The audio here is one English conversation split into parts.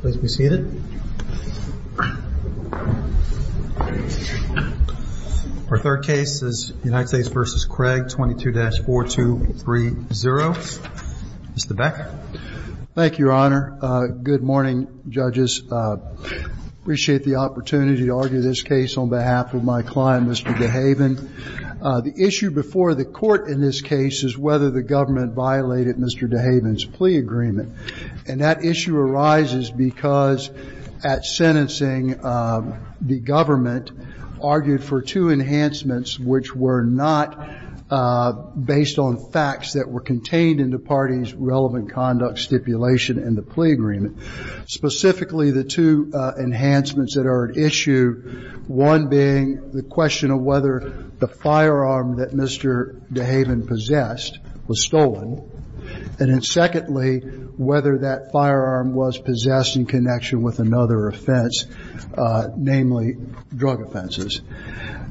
please be seated. Our third case is United States v. Craig 22-4230. Mr. Becker. Thank you, your honor. Good morning, judges. Appreciate the opportunity to argue this case on behalf of my client Mr. Dehaven. The issue before the court in this case is whether the government violated Mr. Dehaven's plea agreement. And that issue arises because at sentencing the government argued for two enhancements which were not based on facts that were contained in the party's relevant conduct stipulation and the plea agreement. Specifically the two enhancements that are at issue, one being the question of whether the firearm that Mr. Dehaven possessed was stolen, and then secondly, whether that firearm was possessed in connection with another offense, namely drug offenses.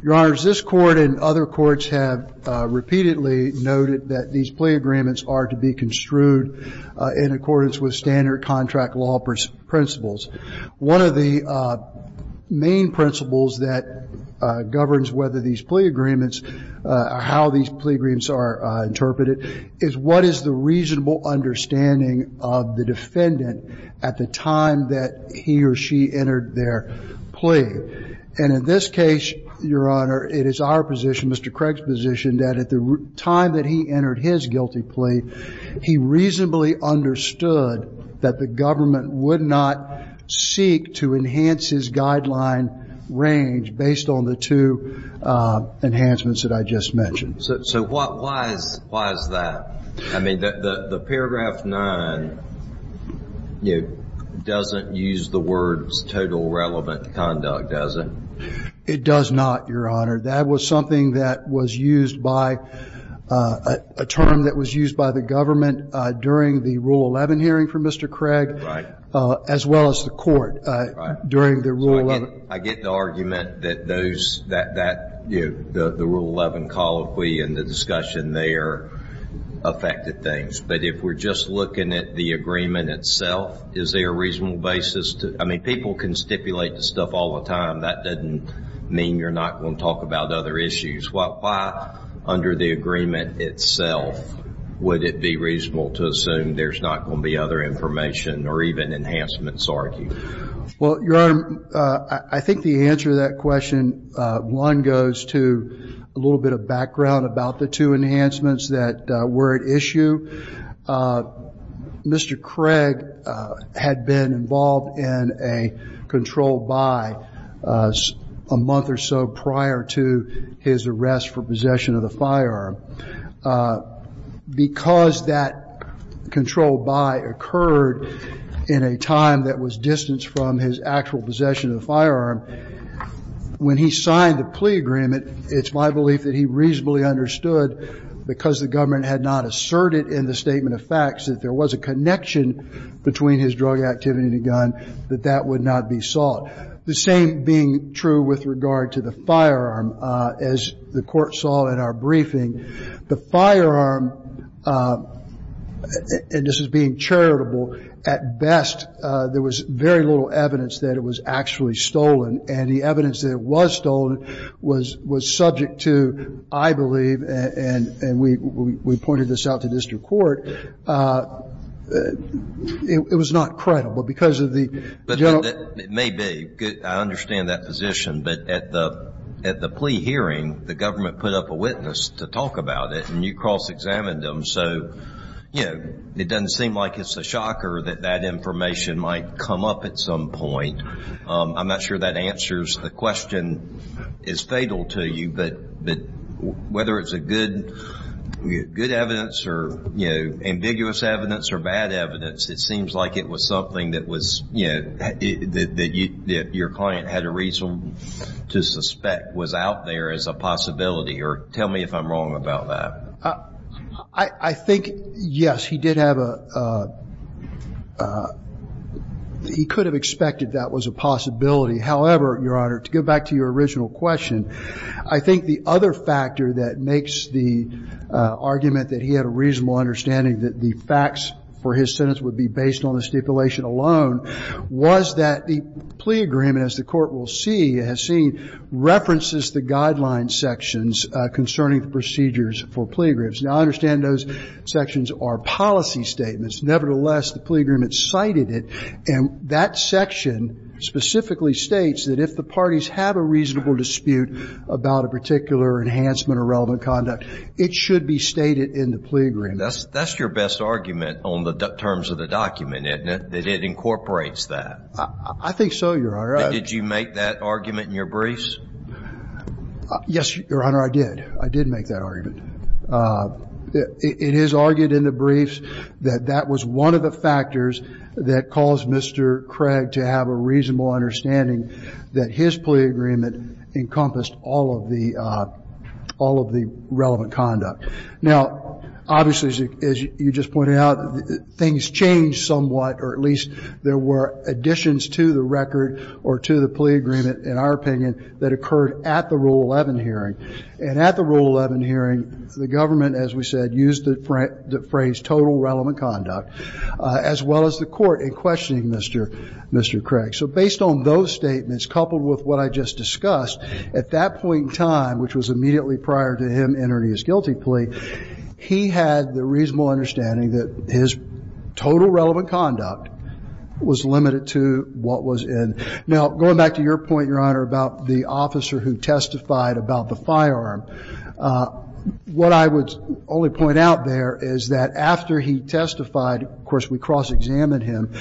Your honors, this Court and other courts have repeatedly noted that these plea agreements are to be construed in accordance with standard contract law principles. One of the main principles that governs whether these plea agreements, how these plea agreements are interpreted, is what is the reasonable understanding of the defendant at the time that he or she entered their plea. And in this case, your honor, it is our position, Mr. Craig's position, that at the time that he entered his guilty plea, he reasonably understood that the government would not seek to enhance his guideline range based on the two enhancements that I just mentioned. So why is that? I mean, the paragraph 9 doesn't use the words total relevant conduct, does it? It does not, your honor. That was something that was used by a term that was used by the government during the Rule 11 hearing for Mr. Craig, as well as the court during the Rule 11. I get the argument that those, that the Rule 11 call of plea and the discussion there affected things. But if we're just looking at the agreement itself, is there a reasonable basis to, I mean, people can stipulate this stuff all the time. That doesn't mean you're not going to talk about other issues. Why, under the agreement itself, would it be reasonable to assume there's not going to be other information or even enhancements argued? Well, your honor, I think the answer to that question, one, goes to a little bit of background about the two enhancements that were at issue. Mr. Craig had been involved in a control by a month or so prior to his arrest for possession of the firearm. Because that control by occurred in a time that was distanced from his actual possession of the firearm, when he signed the plea agreement, it's my belief that he reasonably understood, because the government had not asserted in the statement of facts that there was a connection between his drug activity and the gun, that that would not be sought. The same being true with regard to the firearm, as the Court saw in our briefing. The firearm, and this is being charitable, at best there was very little evidence that it was actually stolen. And the evidence that it was stolen was subject to, I believe, and we pointed this out to district court, it was not credible, because of the general. But it may be. I understand that position. But at the plea hearing, the government put up a witness to talk about it, and you cross-examined them. So, you know, it doesn't seem like it's a shocker that that information might come up at some point. I'm not sure that answers the question is fatal to you, but whether it's a good evidence or, you know, ambiguous evidence or bad evidence, it seems like it was something that was, you know, that your client had a reason to suspect was out there as a possibility. Or tell me if I'm wrong about that. I think, yes, he did have a, he could have expected that was a possibility. However, Your Honor, to get back to your original question, I think the other factor that makes the argument that he had a reasonable understanding that the facts for his sentence would be based on the stipulation alone was that the plea agreement, as the Court will see, has seen, references the guideline sections concerning the procedures for plea agreements. Now, I understand those sections are policy statements. Nevertheless, the plea agreement cited it, and that section specifically states that if the parties have a reasonable dispute about a particular enhancement or relevant conduct, it should be stated in the plea agreement. That's your best argument on the terms of the document, isn't it, that it incorporates that? I think so, Your Honor. Did you make that argument in your briefs? Yes, Your Honor, I did. I did make that argument. It is argued in the briefs that that was one of the factors that caused Mr. Craig to have a reasonable understanding that his plea agreement encompassed all of the relevant conduct. Now, obviously, as you just pointed out, things changed somewhat, or at least there were additions to the record or to the plea agreement, in our opinion, that occurred at the Rule 11 hearing. And at the Rule 11 hearing, the government, as we said, used the phrase total relevant conduct, as well as the Court, in questioning Mr. Craig. So based on those statements, coupled with what I just discussed, at that point in time, which was immediately prior to him entering his guilty plea, he had the reasonable understanding that his total relevant conduct was limited to what was in. Now, going back to your point, Your Honor, about the officer who testified about the firearm, what I would only point out there is that after he testified, of course, we cross-examined him.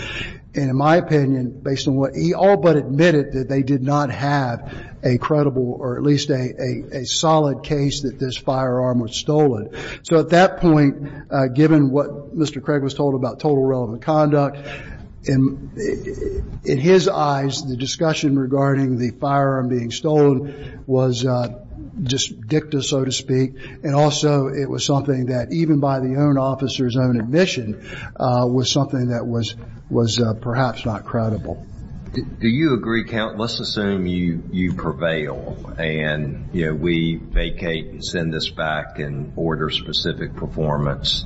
And in my opinion, based on what he all but admitted, that they did not have a credible or at least a solid case that this firearm was stolen. So at that point, given what Mr. Craig was told about total relevant conduct, in his eyes, the discussion regarding the firearm being stolen was just dicta, so to speak. And also, it was something that, even by the own officer's own admission, was something that was perhaps not credible. Do you agree, Count? Let's assume you prevail and we vacate and send this back and order specific performance.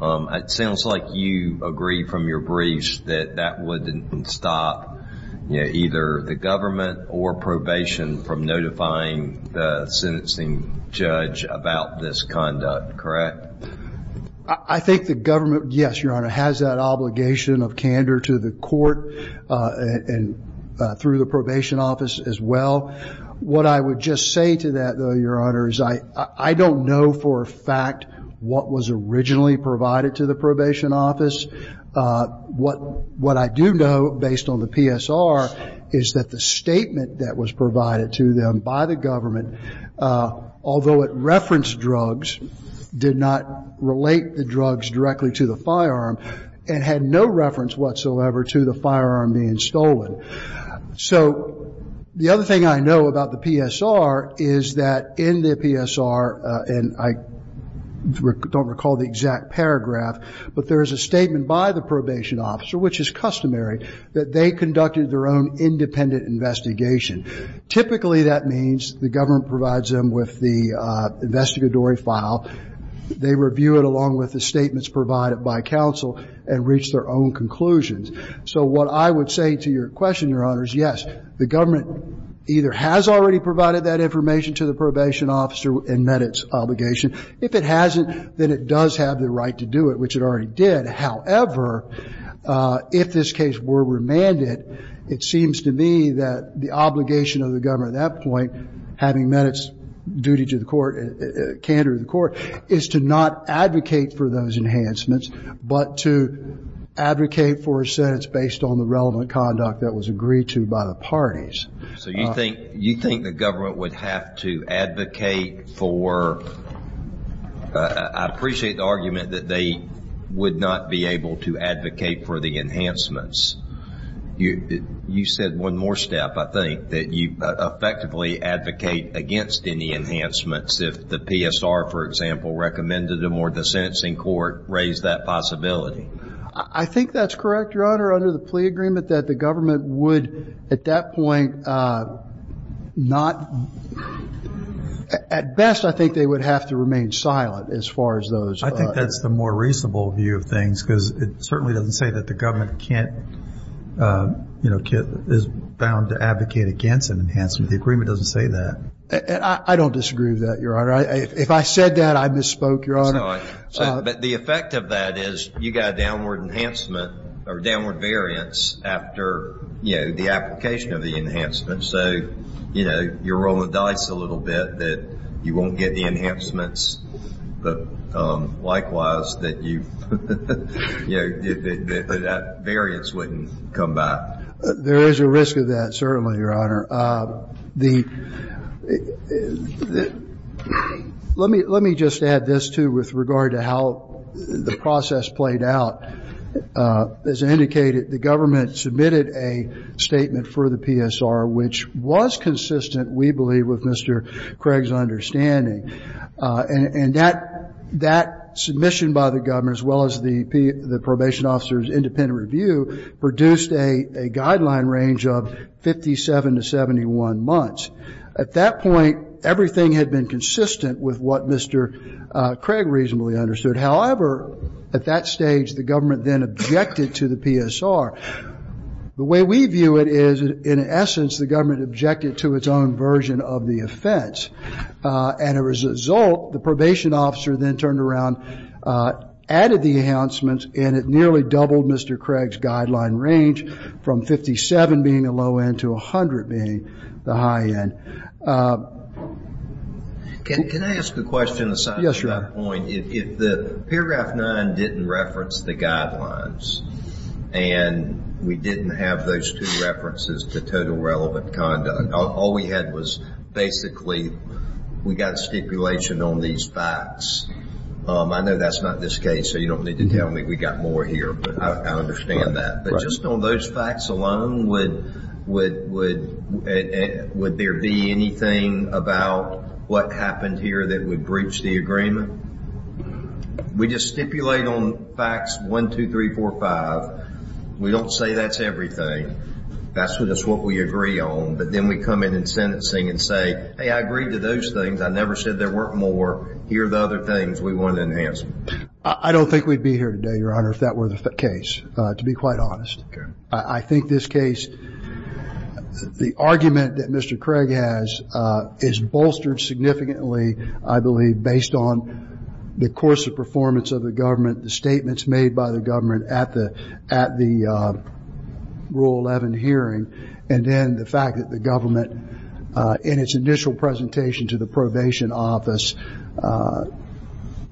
It sounds like you agree from your briefs that that wouldn't stop either the government or probation from notifying the sentencing judge about this conduct, correct? I think the government, yes, Your Honor, has that obligation of candor to the court and through the probation office as well. What I would just say to that, though, Your Honor, is I don't know for a fact what was originally provided to the probation office. What I do know, based on the PSR, is that the statement that was provided to them by the government, although it referenced drugs, did not relate the drugs directly to the firearm and had no reference whatsoever to the firearm being stolen. So the other thing I know about the PSR is that in the PSR, and I don't recall the exact paragraph, but there is a statement by the probation officer, which is customary, that they conducted their own independent investigation. Typically, that means the government provides them with the investigatory file, they review it along with the statements provided by counsel, and reach their own conclusions. So what I would say to your question, Your Honor, is yes, the government either has already provided that information to the probation officer and met its obligation. If it hasn't, then it does have the right to do it, which it already did. However, if this case were remanded, it seems to me that the obligation of the government at that point, having met its duty to the court, candor to the court, is to not advocate for those enhancements, but to advocate for a sentence based on the relevant conduct that was agreed to by the parties. So you think the government would have to advocate for, I appreciate the argument that they would not be able to advocate for the enhancements. You said one more step, I think, that you effectively advocate against any enhancements. If the PSR, for example, recommended them or the sentencing court raised that possibility. I think that's correct, Your Honor, under the plea agreement that the government would at that point not, at best, I think they would have to remain silent as far as those. I think that's the more reasonable view of things, because it certainly doesn't say that the government can't, you know, is bound to advocate against an enhancement. The agreement doesn't say that. And I don't disagree with that, Your Honor. If I said that, I misspoke, Your Honor. But the effect of that is you got a downward enhancement or downward variance after, you know, the application of the enhancement. So, you know, you're rolling dice a little bit that you won't get the enhancements, but likewise, that you, you know, that variance wouldn't come back. There is a risk of that, certainly, Your Honor. The, let me, let me just add this, too, with regard to how the process played out. As indicated, the government submitted a statement for the PSR, which was consistent, we believe, with Mr. Craig's understanding. And that, that submission by the government, as well as the probation officer's independent review, produced a guideline range of 57 to 71 months. At that point, everything had been consistent with what Mr. Craig reasonably understood. However, at that stage, the government then objected to the PSR. The way we view it is, in essence, the government objected to its own version of the offense. And as a result, the probation officer then turned around, added the enhancements, and it nearly doubled Mr. Craig's guideline range from 57 being a low end to 100 being the high end. Can I ask a question aside from that point? If the paragraph 9 didn't reference the guidelines, and we didn't have those two references to total relevant conduct, all we had was basically, we got stipulation on these facts. I know that's not this case, so you don't need to tell me we got more here, but I understand that. But just on those facts alone, would there be anything about what happened here that would breach the agreement? We just stipulate on facts 1, 2, 3, 4, 5. We don't say that's everything. That's just what we agree on. But then we come in in sentencing and say, hey, I agreed to those things. I never said there weren't more. Here are the other things we want to enhance. I don't think we'd be here today, Your Honor, if that were the case, to be quite honest. I think this case, the argument that Mr. Craig has is bolstered significantly, I believe, based on the course of performance of the government, the statements made by the government at the Rule 11 hearing, and then the fact that the government, in its initial presentation to the probation office,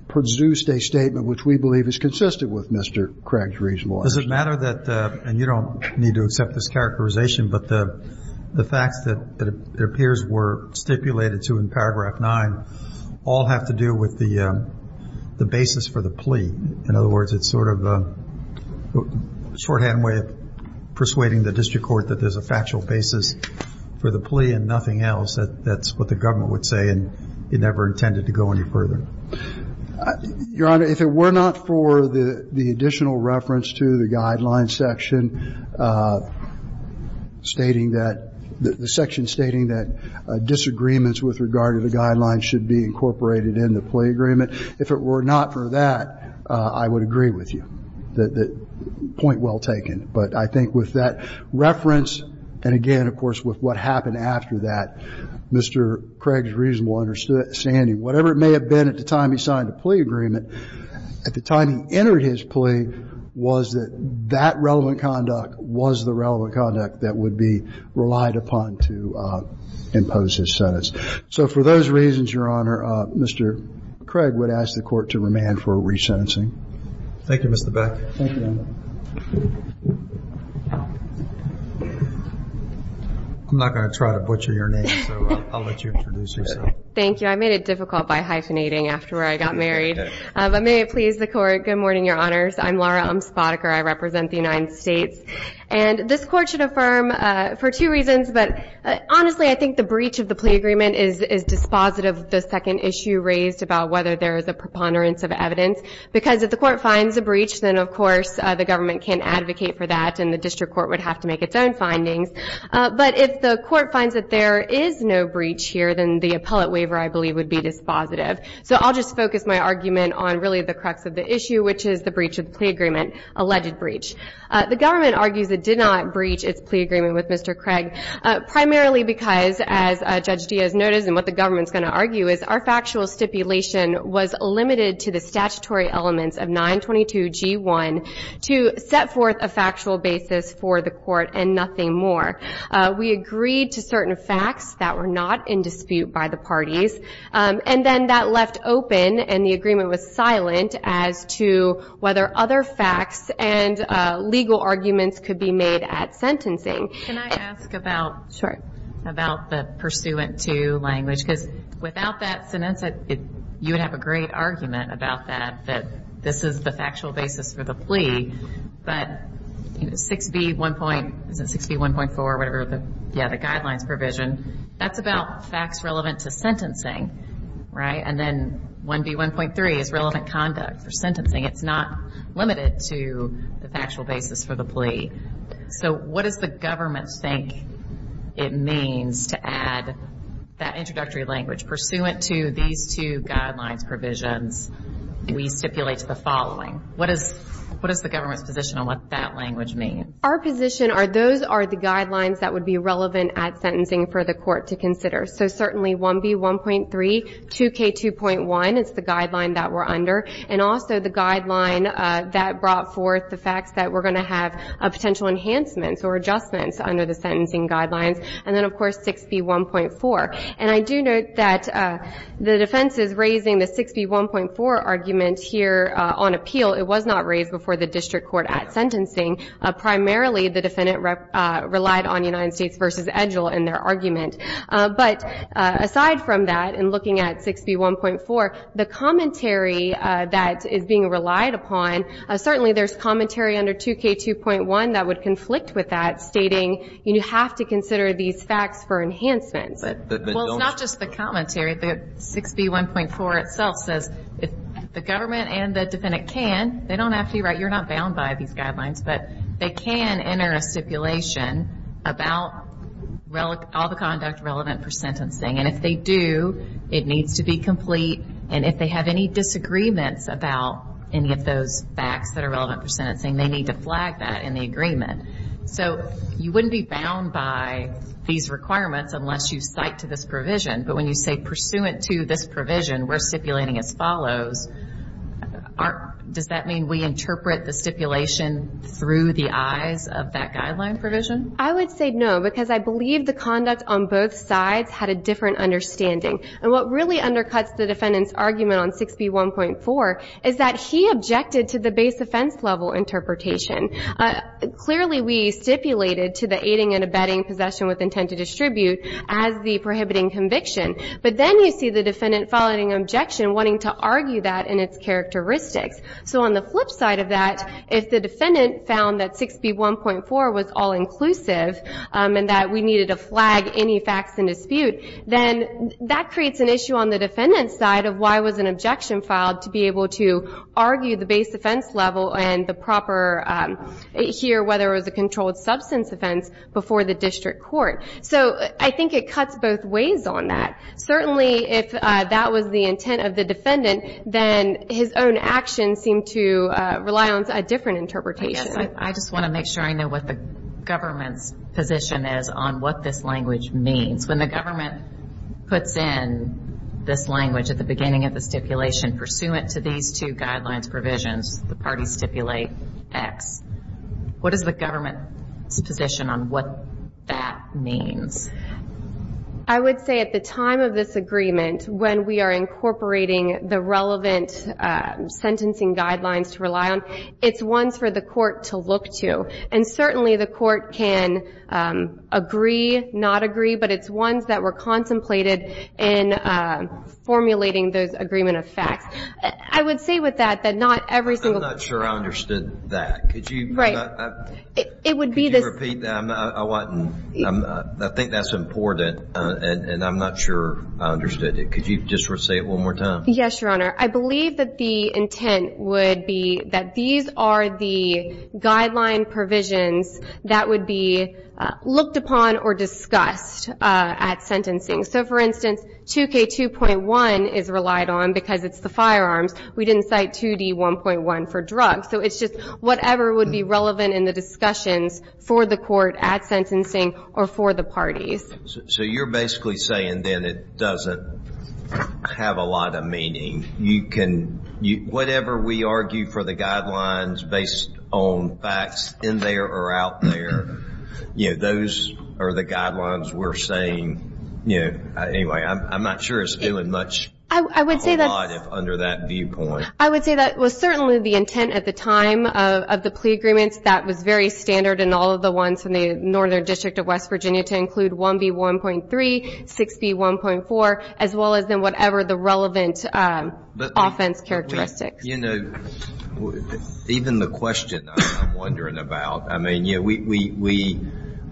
produced a statement which we believe is consistent with Mr. Craig's reasonableness. Does it matter that, and you don't need to accept this characterization, but the facts that it appears were stipulated to in paragraph 9 all have to do with the basis for the plea? In other words, it's sort of a shorthand way of persuading the district court that there's a factual basis for the plea and nothing else. That's what the government would say, and it never intended to go any further. Your Honor, if it were not for the additional reference to the guidelines section, stating that, the section stating that disagreements with regard to the guidelines should be incorporated in the plea agreement, if it were not for that, I would agree with you. Point well taken. But I think with that reference, and again, of course, with what happened after that, Mr. Craig's reasonable understanding, whatever it may have been at the time he signed the plea agreement, at the time he entered his plea was that that relevant conduct was the relevant conduct that would be relied upon to impose his sentence. So for those reasons, Your Honor, Mr. Craig would ask the court to remand for resentencing. Thank you, Mr. Beck. I'm not going to try to butcher your name, so I'll let you introduce yourself. Thank you. I made it difficult by hyphenating after I got married, but may it please the court. Good morning, Your Honors. I'm Laura Umspotiker. I represent the United States, and this court should affirm for two reasons, but honestly, I think the breach of the plea agreement is dispositive of the second issue raised about whether there is a preponderance of evidence, because if the court finds a breach, then, of course, the government can advocate for that, and the district court would have to make its own findings. But if the court finds that there is no breach here, then the appellate waiver, I believe, would be dispositive. So I'll just focus my argument on really the crux of the issue, which is the breach of the plea agreement, alleged breach. The government argues it did not breach its plea agreement with Mr. Craig. Primarily because, as Judge Diaz noticed, and what the government's going to argue is, our factual stipulation was limited to the statutory elements of 922G1 to set forth a factual basis for the court and nothing more. We agreed to certain facts that were not in dispute by the parties, and then that left open, and the agreement was silent as to whether other facts and legal arguments could be made at sentencing. Can I ask about the pursuant to language? Because without that sentence, you would have a great argument about that, that this is the factual basis for the plea. But 6B1.4, the guidelines provision, that's about facts relevant to sentencing, right? And then 1B1.3 is relevant conduct for sentencing. It's not limited to the factual basis for the plea. So what does the government think it means to add that introductory language? Pursuant to these two guidelines provisions, we stipulate the following. What is the government's position on what that language means? Our position are those are the guidelines that would be relevant at sentencing for the court to consider. So certainly 1B1.3, 2K2.1, it's the guideline that we're under. And also the guideline that brought forth the facts that we're going to have potential enhancements or adjustments under the sentencing guidelines. And then, of course, 6B1.4. And I do note that the defense is raising the 6B1.4 argument here on appeal. It was not raised before the district court at sentencing. Primarily, the defendant relied on United States v. Edgell in their argument. But aside from that, in looking at 6B1.4, the commentary that is being relied upon, certainly there's commentary under 2K2.1 that would conflict with that, stating you have to consider these facts for enhancements. Well, it's not just the commentary. 6B1.4 itself says the government and the defendant can, they don't have to be right, you're not bound by these guidelines, but they can enter a stipulation about all the conduct relevant for sentencing. And if they do, it needs to be complete. And if they have any disagreements about any of those facts that are relevant for sentencing, they need to flag that in the agreement. So you wouldn't be bound by these requirements unless you cite to this provision. But when you say pursuant to this provision, we're stipulating as follows, does that mean we interpret the stipulation through the eyes of that guideline provision? I would say no, because I believe the conduct on both sides had a different understanding. And what really undercuts the defendant's argument on 6B1.4 is that he objected to the base offense level interpretation. Clearly, we stipulated to the aiding and abetting possession with intent to distribute as the prohibiting conviction. But then you see the defendant filing an objection wanting to argue that and its characteristics. So on the flip side of that, if the defendant found that 6B1.4 was all-inclusive, and that we needed to flag any facts in dispute, then that creates an issue on the defendant's side of why was an objection filed to be able to argue the base offense level and the proper, here, whether it was a controlled substance offense before the district court. So I think it cuts both ways on that. Certainly, if that was the intent of the defendant, then his own actions seem to rely on a different interpretation. I just want to make sure I know what the government's position is on what this language means. When the government puts in this language at the beginning of the stipulation, pursuant to these two guidelines provisions, the parties stipulate X. What is the government's position on what that means? I would say at the time of this agreement, when we are incorporating the relevant sentencing guidelines to rely on, it's ones for the court to look to. And certainly the court can agree, not agree, but it's ones that were contemplated in formulating those agreement of facts. I would say with that that not every single- I'm not sure I understood that. Could you repeat that? I think that's important, and I'm not sure I understood it. Could you just say it one more time? Yes, Your Honor. I believe that the intent would be that these are the guideline provisions that would be looked upon or discussed at sentencing. So, for instance, 2K2.1 is relied on because it's the firearms. We didn't cite 2D1.1 for drugs. So it's just whatever would be relevant in the discussions for the court at sentencing or for the parties. So you're basically saying then it doesn't have a lot of meaning. Whatever we argue for the guidelines based on facts in there or out there, those are the guidelines we're saying. Anyway, I'm not sure it's doing much or a lot under that viewpoint. I would say that was certainly the intent at the time of the plea agreements. That was very standard in all of the ones in the Northern District of West Virginia to include 1B1.3, 6B1.4, as well as in whatever the relevant offense characteristics. You know, even the question I'm wondering about, I mean,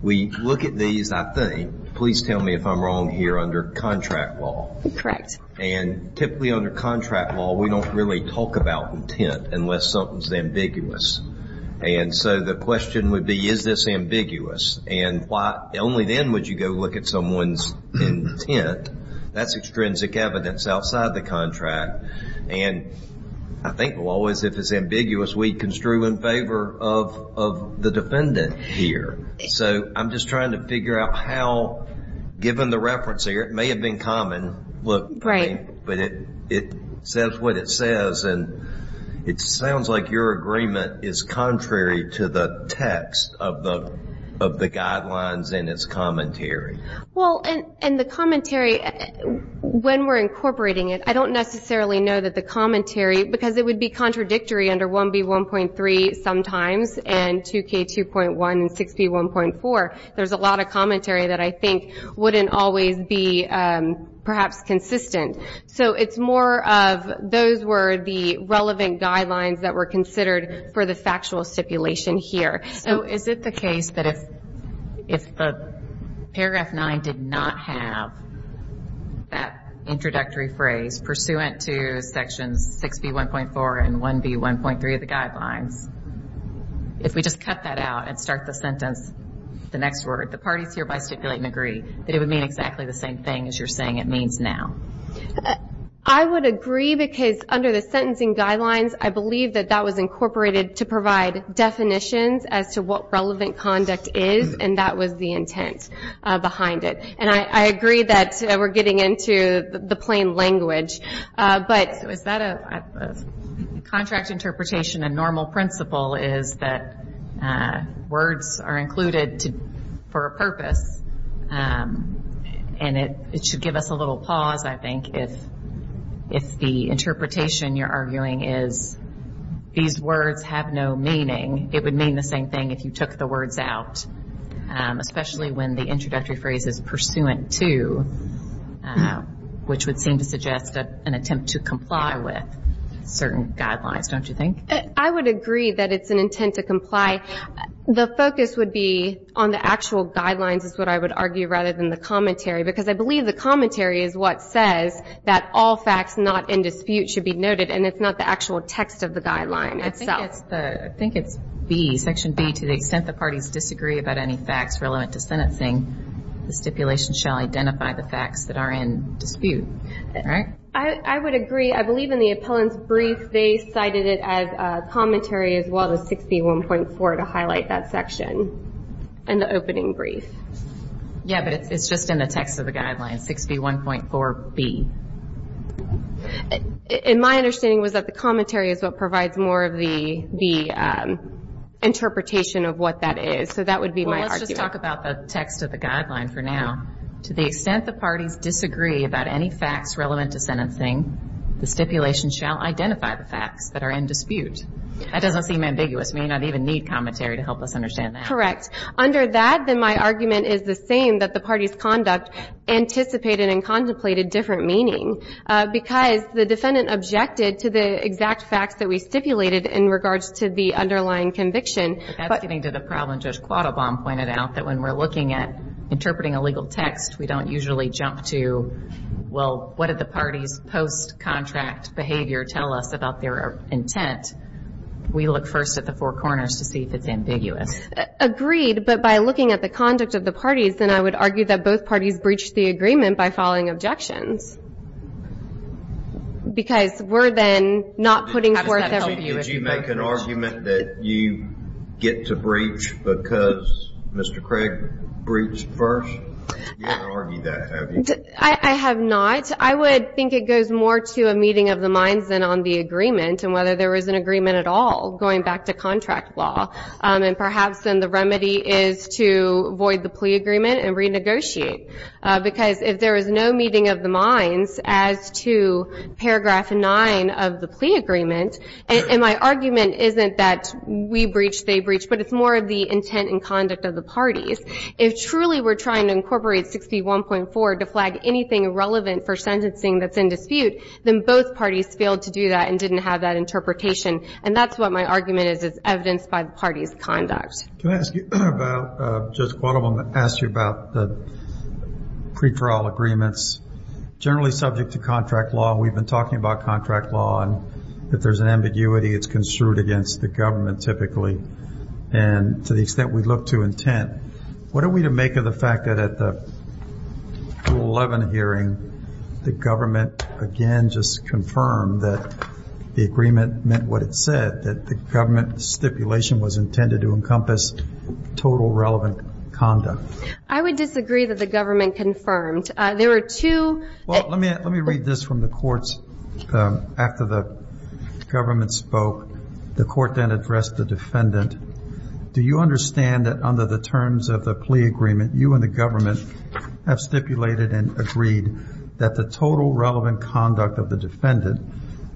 we look at these, I think. Please tell me if I'm wrong here under contract law. Correct. And typically under contract law, we don't really talk about intent unless something's ambiguous. And so the question would be, is this ambiguous? And only then would you go look at someone's intent. That's extrinsic evidence outside the contract. And I think law is, if it's ambiguous, we construe in favor of the defendant here. So I'm just trying to figure out how, given the reference here, it may have been common, but it says what it says, and it sounds like your agreement is contrary to the text of the guidelines and its commentary. Well, and the commentary, when we're incorporating it, I don't necessarily know that the commentary, because it would be contradictory under 1B1.3 sometimes and 2K2.1 and 6B1.4. There's a lot of commentary that I think wouldn't always be perhaps consistent. So it's more of those were the relevant guidelines that were considered for the factual stipulation here. So is it the case that if Paragraph 9 did not have that introductory phrase, pursuant to Sections 6B1.4 and 1B1.3 of the guidelines, if we just cut that out and start the sentence, the next word, the parties hereby stipulate and agree that it would mean exactly the same thing as you're saying it means now. I would agree, because under the sentencing guidelines, I believe that that was incorporated to provide definitions as to what relevant conduct is, and that was the intent behind it. And I agree that we're getting into the plain language. But is that a contract interpretation? A normal principle is that words are included for a purpose, and it should give us a little pause, I think, if the interpretation you're arguing is these words have no meaning. It would mean the same thing if you took the words out, especially when the introductory phrase is pursuant to, which would seem to suggest an attempt to comply with certain guidelines, don't you think? I would agree that it's an intent to comply. The focus would be on the actual guidelines is what I would argue rather than the commentary, because I believe the commentary is what says that all facts not in dispute should be noted, and it's not the actual text of the guideline itself. I think it's B, Section B, to the extent the parties disagree about any facts relevant to sentencing, the stipulation shall identify the facts that are in dispute, right? I would agree. I believe in the appellant's brief they cited it as commentary as well as 6B1.4 to highlight that section in the opening brief. Yeah, but it's just in the text of the guideline, 6B1.4B. My understanding was that the commentary is what provides more of the interpretation of what that is, so that would be my argument. Well, let's talk about the text of the guideline for now. To the extent the parties disagree about any facts relevant to sentencing, the stipulation shall identify the facts that are in dispute. That doesn't seem ambiguous. We may not even need commentary to help us understand that. Correct. Under that, then my argument is the same, that the parties' conduct anticipated and contemplated different meaning, because the defendant objected to the exact facts that we stipulated in regards to the underlying conviction. That's getting to the problem Judge Quattlebaum pointed out, that when we're looking at interpreting a legal text, we don't usually jump to, well, what did the party's post-contract behavior tell us about their intent? We look first at the four corners to see if it's ambiguous. Agreed, but by looking at the conduct of the parties, then I would argue that both parties breached the agreement by following objections, because we're then not putting forth every view. Did you make an argument that you get to breach because Mr. Craig breached first? You haven't argued that, have you? I have not. I would think it goes more to a meeting of the minds than on the agreement and whether there was an agreement at all, going back to contract law. And perhaps then the remedy is to void the plea agreement and renegotiate, because if there is no meeting of the minds as to paragraph 9 of the plea agreement, and my argument isn't that we breached, they breached, but it's more of the intent and conduct of the parties. If truly we're trying to incorporate 61.4 to flag anything irrelevant for sentencing that's in dispute, then both parties failed to do that and didn't have that interpretation. And that's what my argument is. It's evidenced by the party's conduct. Can I ask you about, Judge Quattlebaum asked you about the pre-trial agreements, generally subject to contract law. We've been talking about contract law, and if there's an ambiguity, it's construed against the government typically. And to the extent we look to intent, what are we to make of the fact that at the Rule 11 hearing the government, again, just confirmed that the agreement meant what it said, that the government stipulation was intended to encompass total relevant conduct? I would disagree that the government confirmed. Well, let me read this from the courts. After the government spoke, the court then addressed the defendant. Do you understand that under the terms of the plea agreement, you and the government have stipulated and agreed that the total relevant conduct of the defendant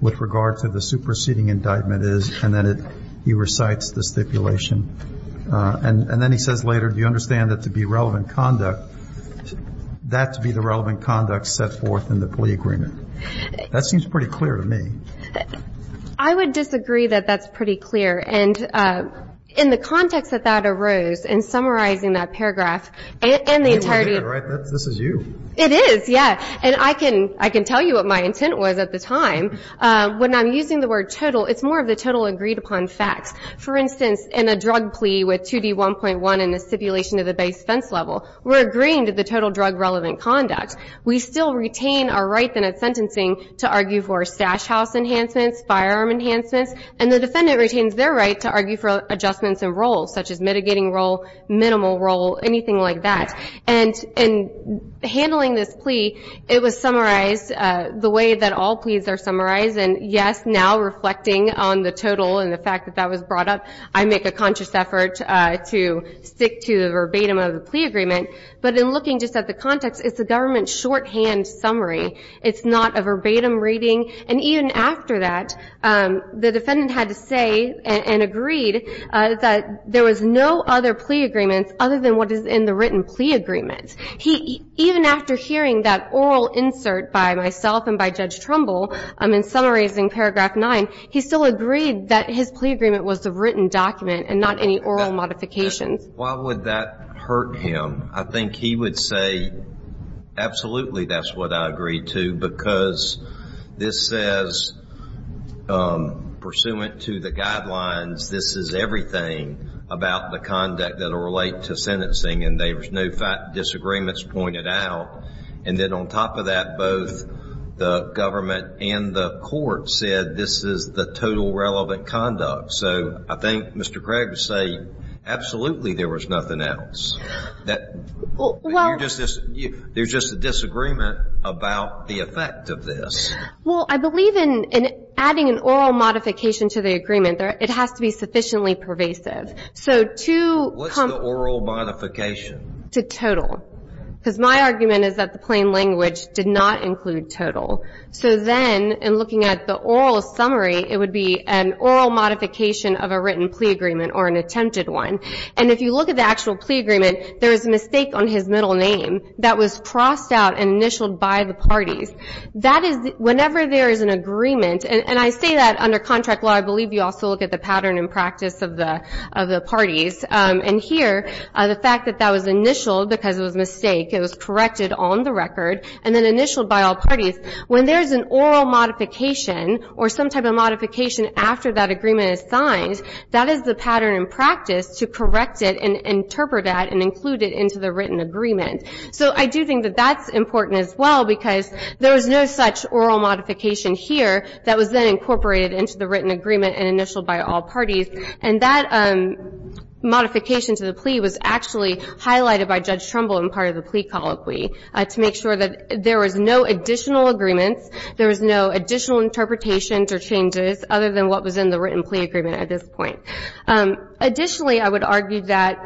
with regard to the superseding indictment is, and then he recites the stipulation. And then he says later, do you understand that to be relevant conduct, that to be the relevant conduct set forth in the plea agreement? That seems pretty clear to me. I would disagree that that's pretty clear. And in the context that that arose, in summarizing that paragraph, and the entirety of it. This is you. It is, yeah. And I can tell you what my intent was at the time. When I'm using the word total, it's more of the total agreed upon facts. For instance, in a drug plea with 2D1.1 and the stipulation of the base fence level, we're agreeing to the total drug relevant conduct. We still retain our right, then, at sentencing to argue for stash house enhancements, firearm enhancements. And the defendant retains their right to argue for adjustments in roles, such as mitigating role, minimal role, anything like that. And in handling this plea, it was summarized the way that all pleas are summarized. And, yes, now reflecting on the total and the fact that that was brought up, I make a conscious effort to stick to the verbatim of the plea agreement. But in looking just at the context, it's a government shorthand summary. It's not a verbatim reading. And even after that, the defendant had to say and agreed that there was no other plea agreement other than what is in the written plea agreement. Even after hearing that oral insert by myself and by Judge Trumbull in summarizing Paragraph 9, he still agreed that his plea agreement was the written document and not any oral modifications. Why would that hurt him? I think he would say, absolutely, that's what I agree to, because this says, pursuant to the guidelines, this is everything about the conduct that will relate to sentencing, and there's no disagreements pointed out. And then on top of that, both the government and the court said this is the total relevant conduct. So I think Mr. Craig would say, absolutely, there was nothing else. There's just a disagreement about the effect of this. Well, I believe in adding an oral modification to the agreement, it has to be sufficiently pervasive. What's the oral modification? To total. Because my argument is that the plain language did not include total. So then in looking at the oral summary, it would be an oral modification of a written plea agreement or an attempted one. And if you look at the actual plea agreement, there is a mistake on his middle name that was crossed out and initialed by the parties. Whenever there is an agreement, and I say that under contract law, I believe you also look at the pattern and practice of the parties. And here, the fact that that was initialed because it was a mistake, it was corrected on the record, and then initialed by all parties, when there is an oral modification or some type of modification after that agreement is signed, that is the pattern and practice to correct it and interpret that and include it into the written agreement. So I do think that that's important as well, because there is no such oral modification here that was then incorporated into the written agreement and initialed by all parties. And that modification to the plea was actually highlighted by Judge Trumbull in part of the plea colloquy to make sure that there was no additional agreements, there was no additional interpretations or changes other than what was in the written plea agreement at this point. Additionally, I would argue that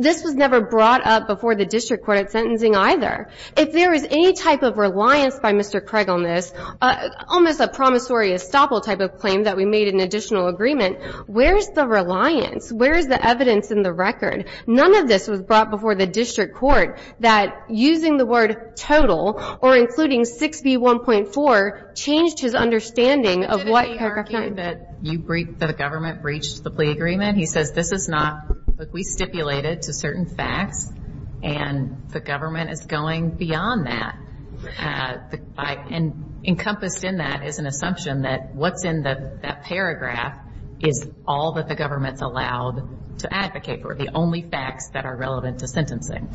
this was never brought up before the district court at sentencing either. If there is any type of reliance by Mr. Craig on this, almost a promissory estoppel type of claim that we made an additional agreement, where is the reliance? Where is the evidence in the record? None of this was brought before the district court that, using the word total or including 6B1.4, changed his understanding of what corrective action. Did he argue that the government breached the plea agreement? He says, this is not, we stipulated to certain facts, and the government is going beyond that. And encompassed in that is an assumption that what's in that paragraph is all that the government's allowed to advocate for, the only facts that are relevant to sentencing.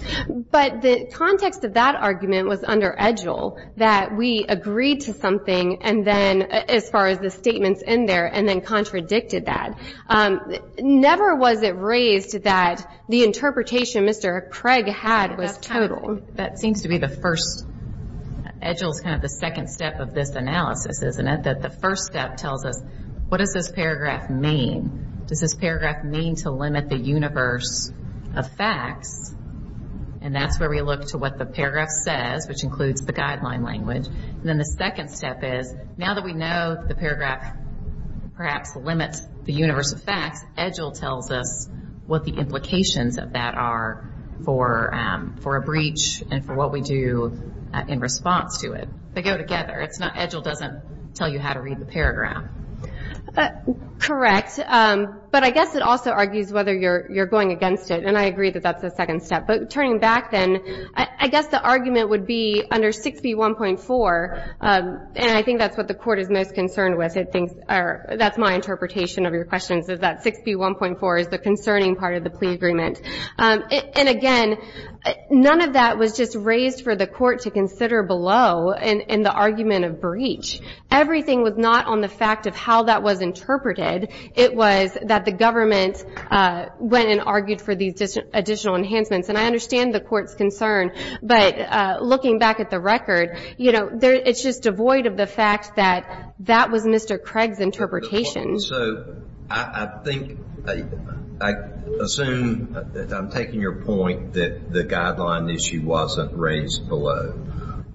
But the context of that argument was under Agile, that we agreed to something, and then, as far as the statements in there, and then contradicted that. Never was it raised that the interpretation Mr. Craig had was total. That seems to be the first, Agile is kind of the second step of this analysis, isn't it? That the first step tells us, what does this paragraph mean? Does this paragraph mean to limit the universe of facts? And that's where we look to what the paragraph says, which includes the guideline language. And then the second step is, now that we know the paragraph perhaps limits the universe of facts, Agile tells us what the implications of that are for a breach and for what we do in response to it. They go together. Agile doesn't tell you how to read the paragraph. Correct. But I guess it also argues whether you're going against it. And I agree that that's the second step. But turning back then, I guess the argument would be under 6B1.4, and I think that's what the Court is most concerned with. That's my interpretation of your questions is that 6B1.4 is the concerning part of the plea agreement. And, again, none of that was just raised for the Court to consider below in the argument of breach. Everything was not on the fact of how that was interpreted. It was that the government went and argued for these additional enhancements. And I understand the Court's concern. But looking back at the record, you know, it's just devoid of the fact that that was Mr. Craig's interpretation. So I think, I assume, I'm taking your point that the guideline issue wasn't raised below.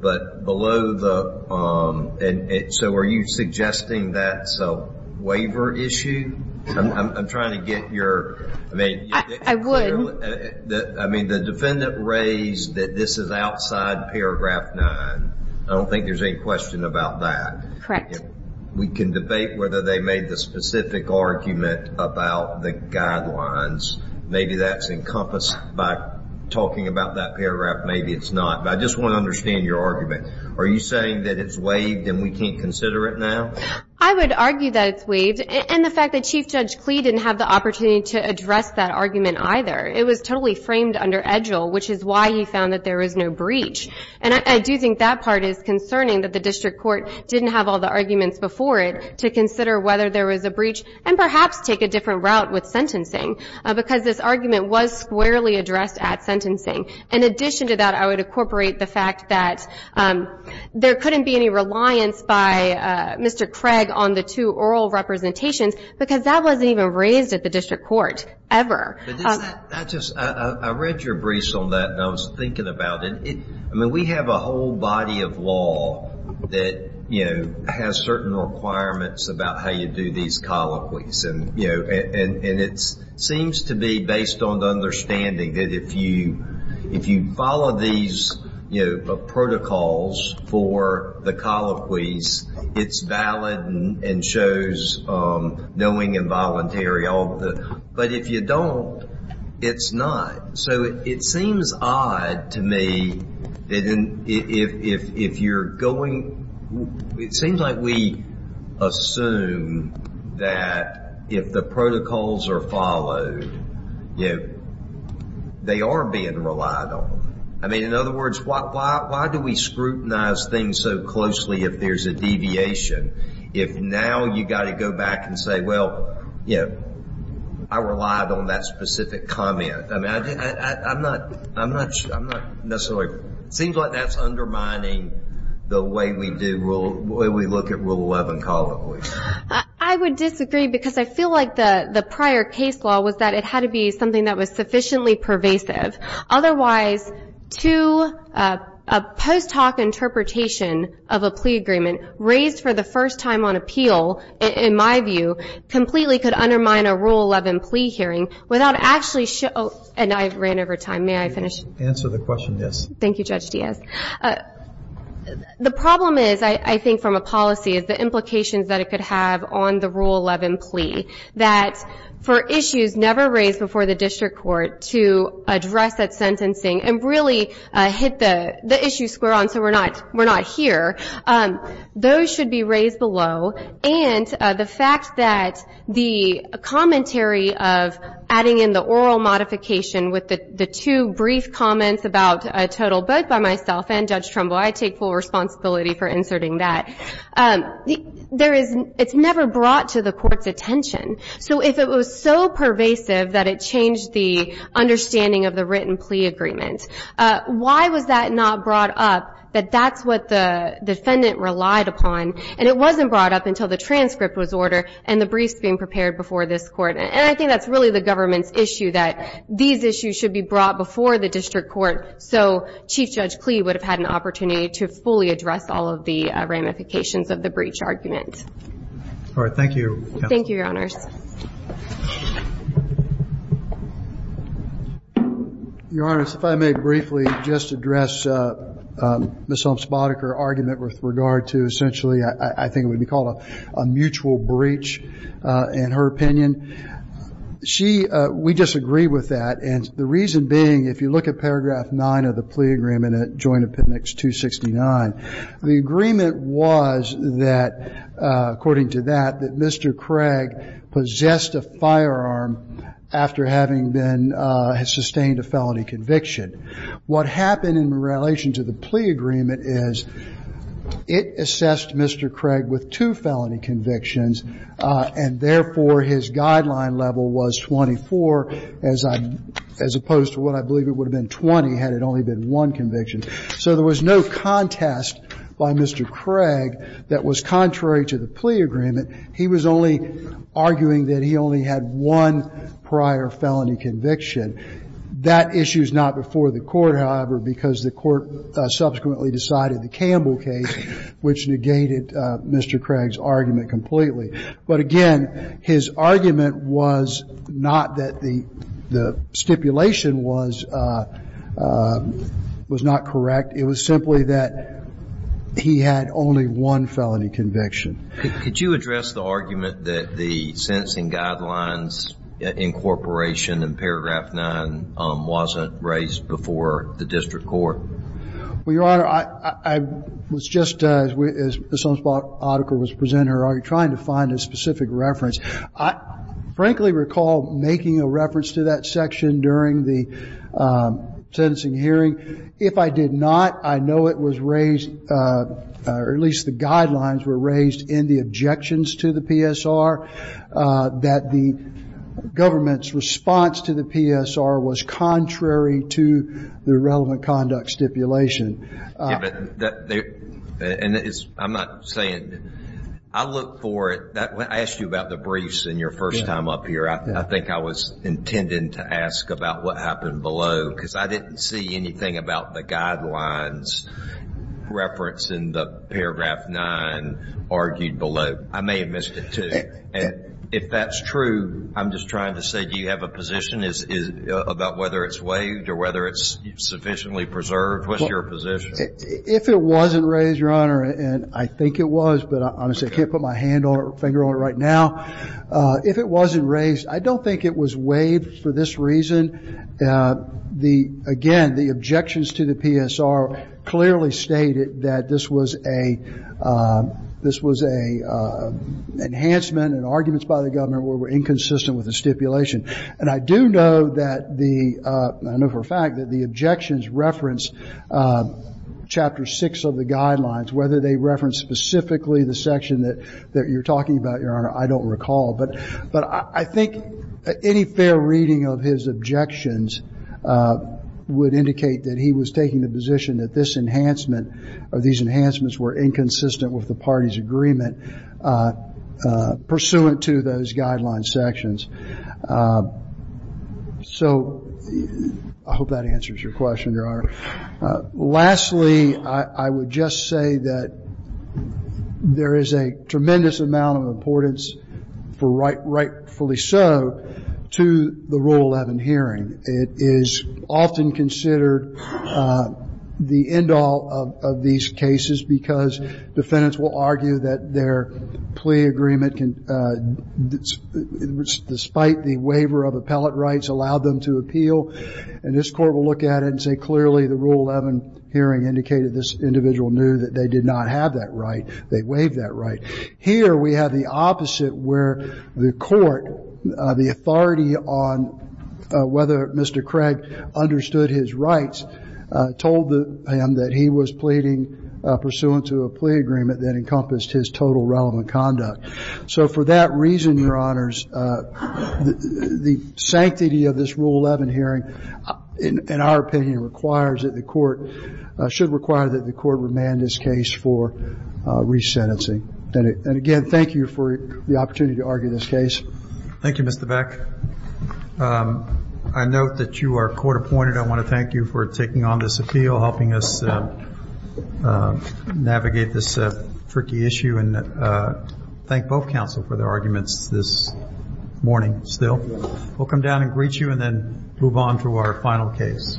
But below the, so are you suggesting that's a waiver issue? I'm trying to get your, I mean. I would. I mean, the defendant raised that this is outside paragraph 9. I don't think there's any question about that. We can debate whether they made the specific argument about the guidelines. Maybe that's encompassed by talking about that paragraph. Maybe it's not. But I just want to understand your argument. Are you saying that it's waived and we can't consider it now? I would argue that it's waived. And the fact that Chief Judge Clee didn't have the opportunity to address that argument either. It was totally framed under EDGIL, which is why he found that there was no breach. And I do think that part is concerning, that the district court didn't have all the arguments before it to consider whether there was a breach and perhaps take a different route with sentencing because this argument was squarely addressed at sentencing. In addition to that, I would incorporate the fact that there couldn't be any reliance by Mr. Craig on the two oral representations because that wasn't even raised at the district court ever. I just, I read your briefs on that and I was thinking about it. I mean, we have a whole body of law that, you know, has certain requirements about how you do these colloquies. And, you know, and it seems to be based on the understanding that if you follow these, you know, protocols for the colloquies, it's valid and shows knowing involuntary. But if you don't, it's not. So it seems odd to me if you're going, it seems like we assume that if the protocols are followed, you know, they are being relied on. I mean, in other words, why do we scrutinize things so closely if there's a deviation? If now you've got to go back and say, well, you know, I relied on that specific comment. I mean, I'm not necessarily, it seems like that's undermining the way we do, the way we look at Rule 11 colloquies. I would disagree because I feel like the prior case law was that it had to be something that was sufficiently pervasive. Otherwise, two, a post hoc interpretation of a plea agreement raised for the first time on appeal, in my view, completely could undermine a Rule 11 plea hearing without actually showing, and I've ran over time. May I finish? Answer the question, yes. Thank you, Judge Diaz. The problem is, I think from a policy, is the implications that it could have on the Rule 11 plea, that for issues never raised before the district court to address that sentencing and really hit the issue square on so we're not here, those should be raised below. And the fact that the commentary of adding in the oral modification with the two brief comments about a total, both by myself and Judge Trumbo, I take full responsibility for inserting that. It's never brought to the court's attention. So if it was so pervasive that it changed the understanding of the written plea agreement, why was that not brought up that that's what the defendant relied upon? And it wasn't brought up until the transcript was ordered and the briefs being prepared before this court. And I think that's really the government's issue that these issues should be brought before the district court so Chief Judge Klee would have had an opportunity to fully address all of the ramifications of the breach argument. All right. Thank you, counsel. Thank you, Your Honors. Your Honors, if I may briefly just address Ms. Omspadaker's argument with regard to essentially I think it would be called a mutual breach in her opinion. She, we disagree with that. And the reason being, if you look at paragraph 9 of the plea agreement at Joint Appendix 269, the agreement was that, according to that, that Mr. Craig possessed a firearm after having been sustained a felony conviction. What happened in relation to the plea agreement is it assessed Mr. Craig with two felony convictions, and therefore his guideline level was 24 as opposed to what I believe it would have been 20 had it only been one conviction. So there was no contest by Mr. Craig that was contrary to the plea agreement. He was only arguing that he only had one prior felony conviction. That issue is not before the court, however, because the court subsequently decided the Campbell case, which negated Mr. Craig's argument completely. But again, his argument was not that the stipulation was not correct. It was simply that he had only one felony conviction. Could you address the argument that the sentencing guidelines incorporation in paragraph 9 wasn't raised before the district court? Well, Your Honor, I was just, as the Sunspot article was presented, trying to find a specific reference. I frankly recall making a reference to that section during the sentencing hearing. If I did not, I know it was raised, or at least the guidelines were raised in the objections to the PSR, that the government's response to the PSR was contrary to the relevant conduct stipulation. And I'm not saying I look for it. I asked you about the briefs in your first time up here. I think I was intending to ask about what happened below because I didn't see anything about the guidelines reference in the paragraph 9 argued below. I may have missed it, too. And if that's true, I'm just trying to say, do you have a position about whether it's waived or whether it's sufficiently preserved? What's your position? If it wasn't raised, Your Honor, and I think it was, but I honestly can't put my hand or finger on it right now. If it wasn't raised, I don't think it was waived for this reason. Again, the objections to the PSR clearly stated that this was a enhancement and arguments by the government were inconsistent with the stipulation. And I do know that the – I know for a fact that the objections reference Chapter 6 of the guidelines, whether they reference specifically the section that you're talking about, Your Honor, I don't recall. But I think any fair reading of his objections would indicate that he was taking the position that this enhancement or these enhancements were inconsistent with the party's agreement pursuant to those guideline sections. So I hope that answers your question, Your Honor. Lastly, I would just say that there is a tremendous amount of importance, rightfully so, to the Rule 11 hearing. It is often considered the end all of these cases because defendants will argue that their plea agreement, despite the waiver of appellate rights, allowed them to appeal. And this Court will look at it and say clearly the Rule 11 hearing indicated this individual knew that they did not have that right. They waived that right. Here we have the opposite where the Court, the authority on whether Mr. Craig understood his rights, told him that he was pleading pursuant to a plea agreement that encompassed his total relevant conduct. So for that reason, Your Honors, the sanctity of this Rule 11 hearing, in our opinion, should require that the Court remand this case for resentencing. And again, thank you for the opportunity to argue this case. Thank you, Mr. Beck. I note that you are court-appointed. I want to thank you for taking on this appeal, helping us navigate this tricky issue. And thank both counsel for their arguments this morning still. We'll come down and greet you and then move on to our final case. Thank you.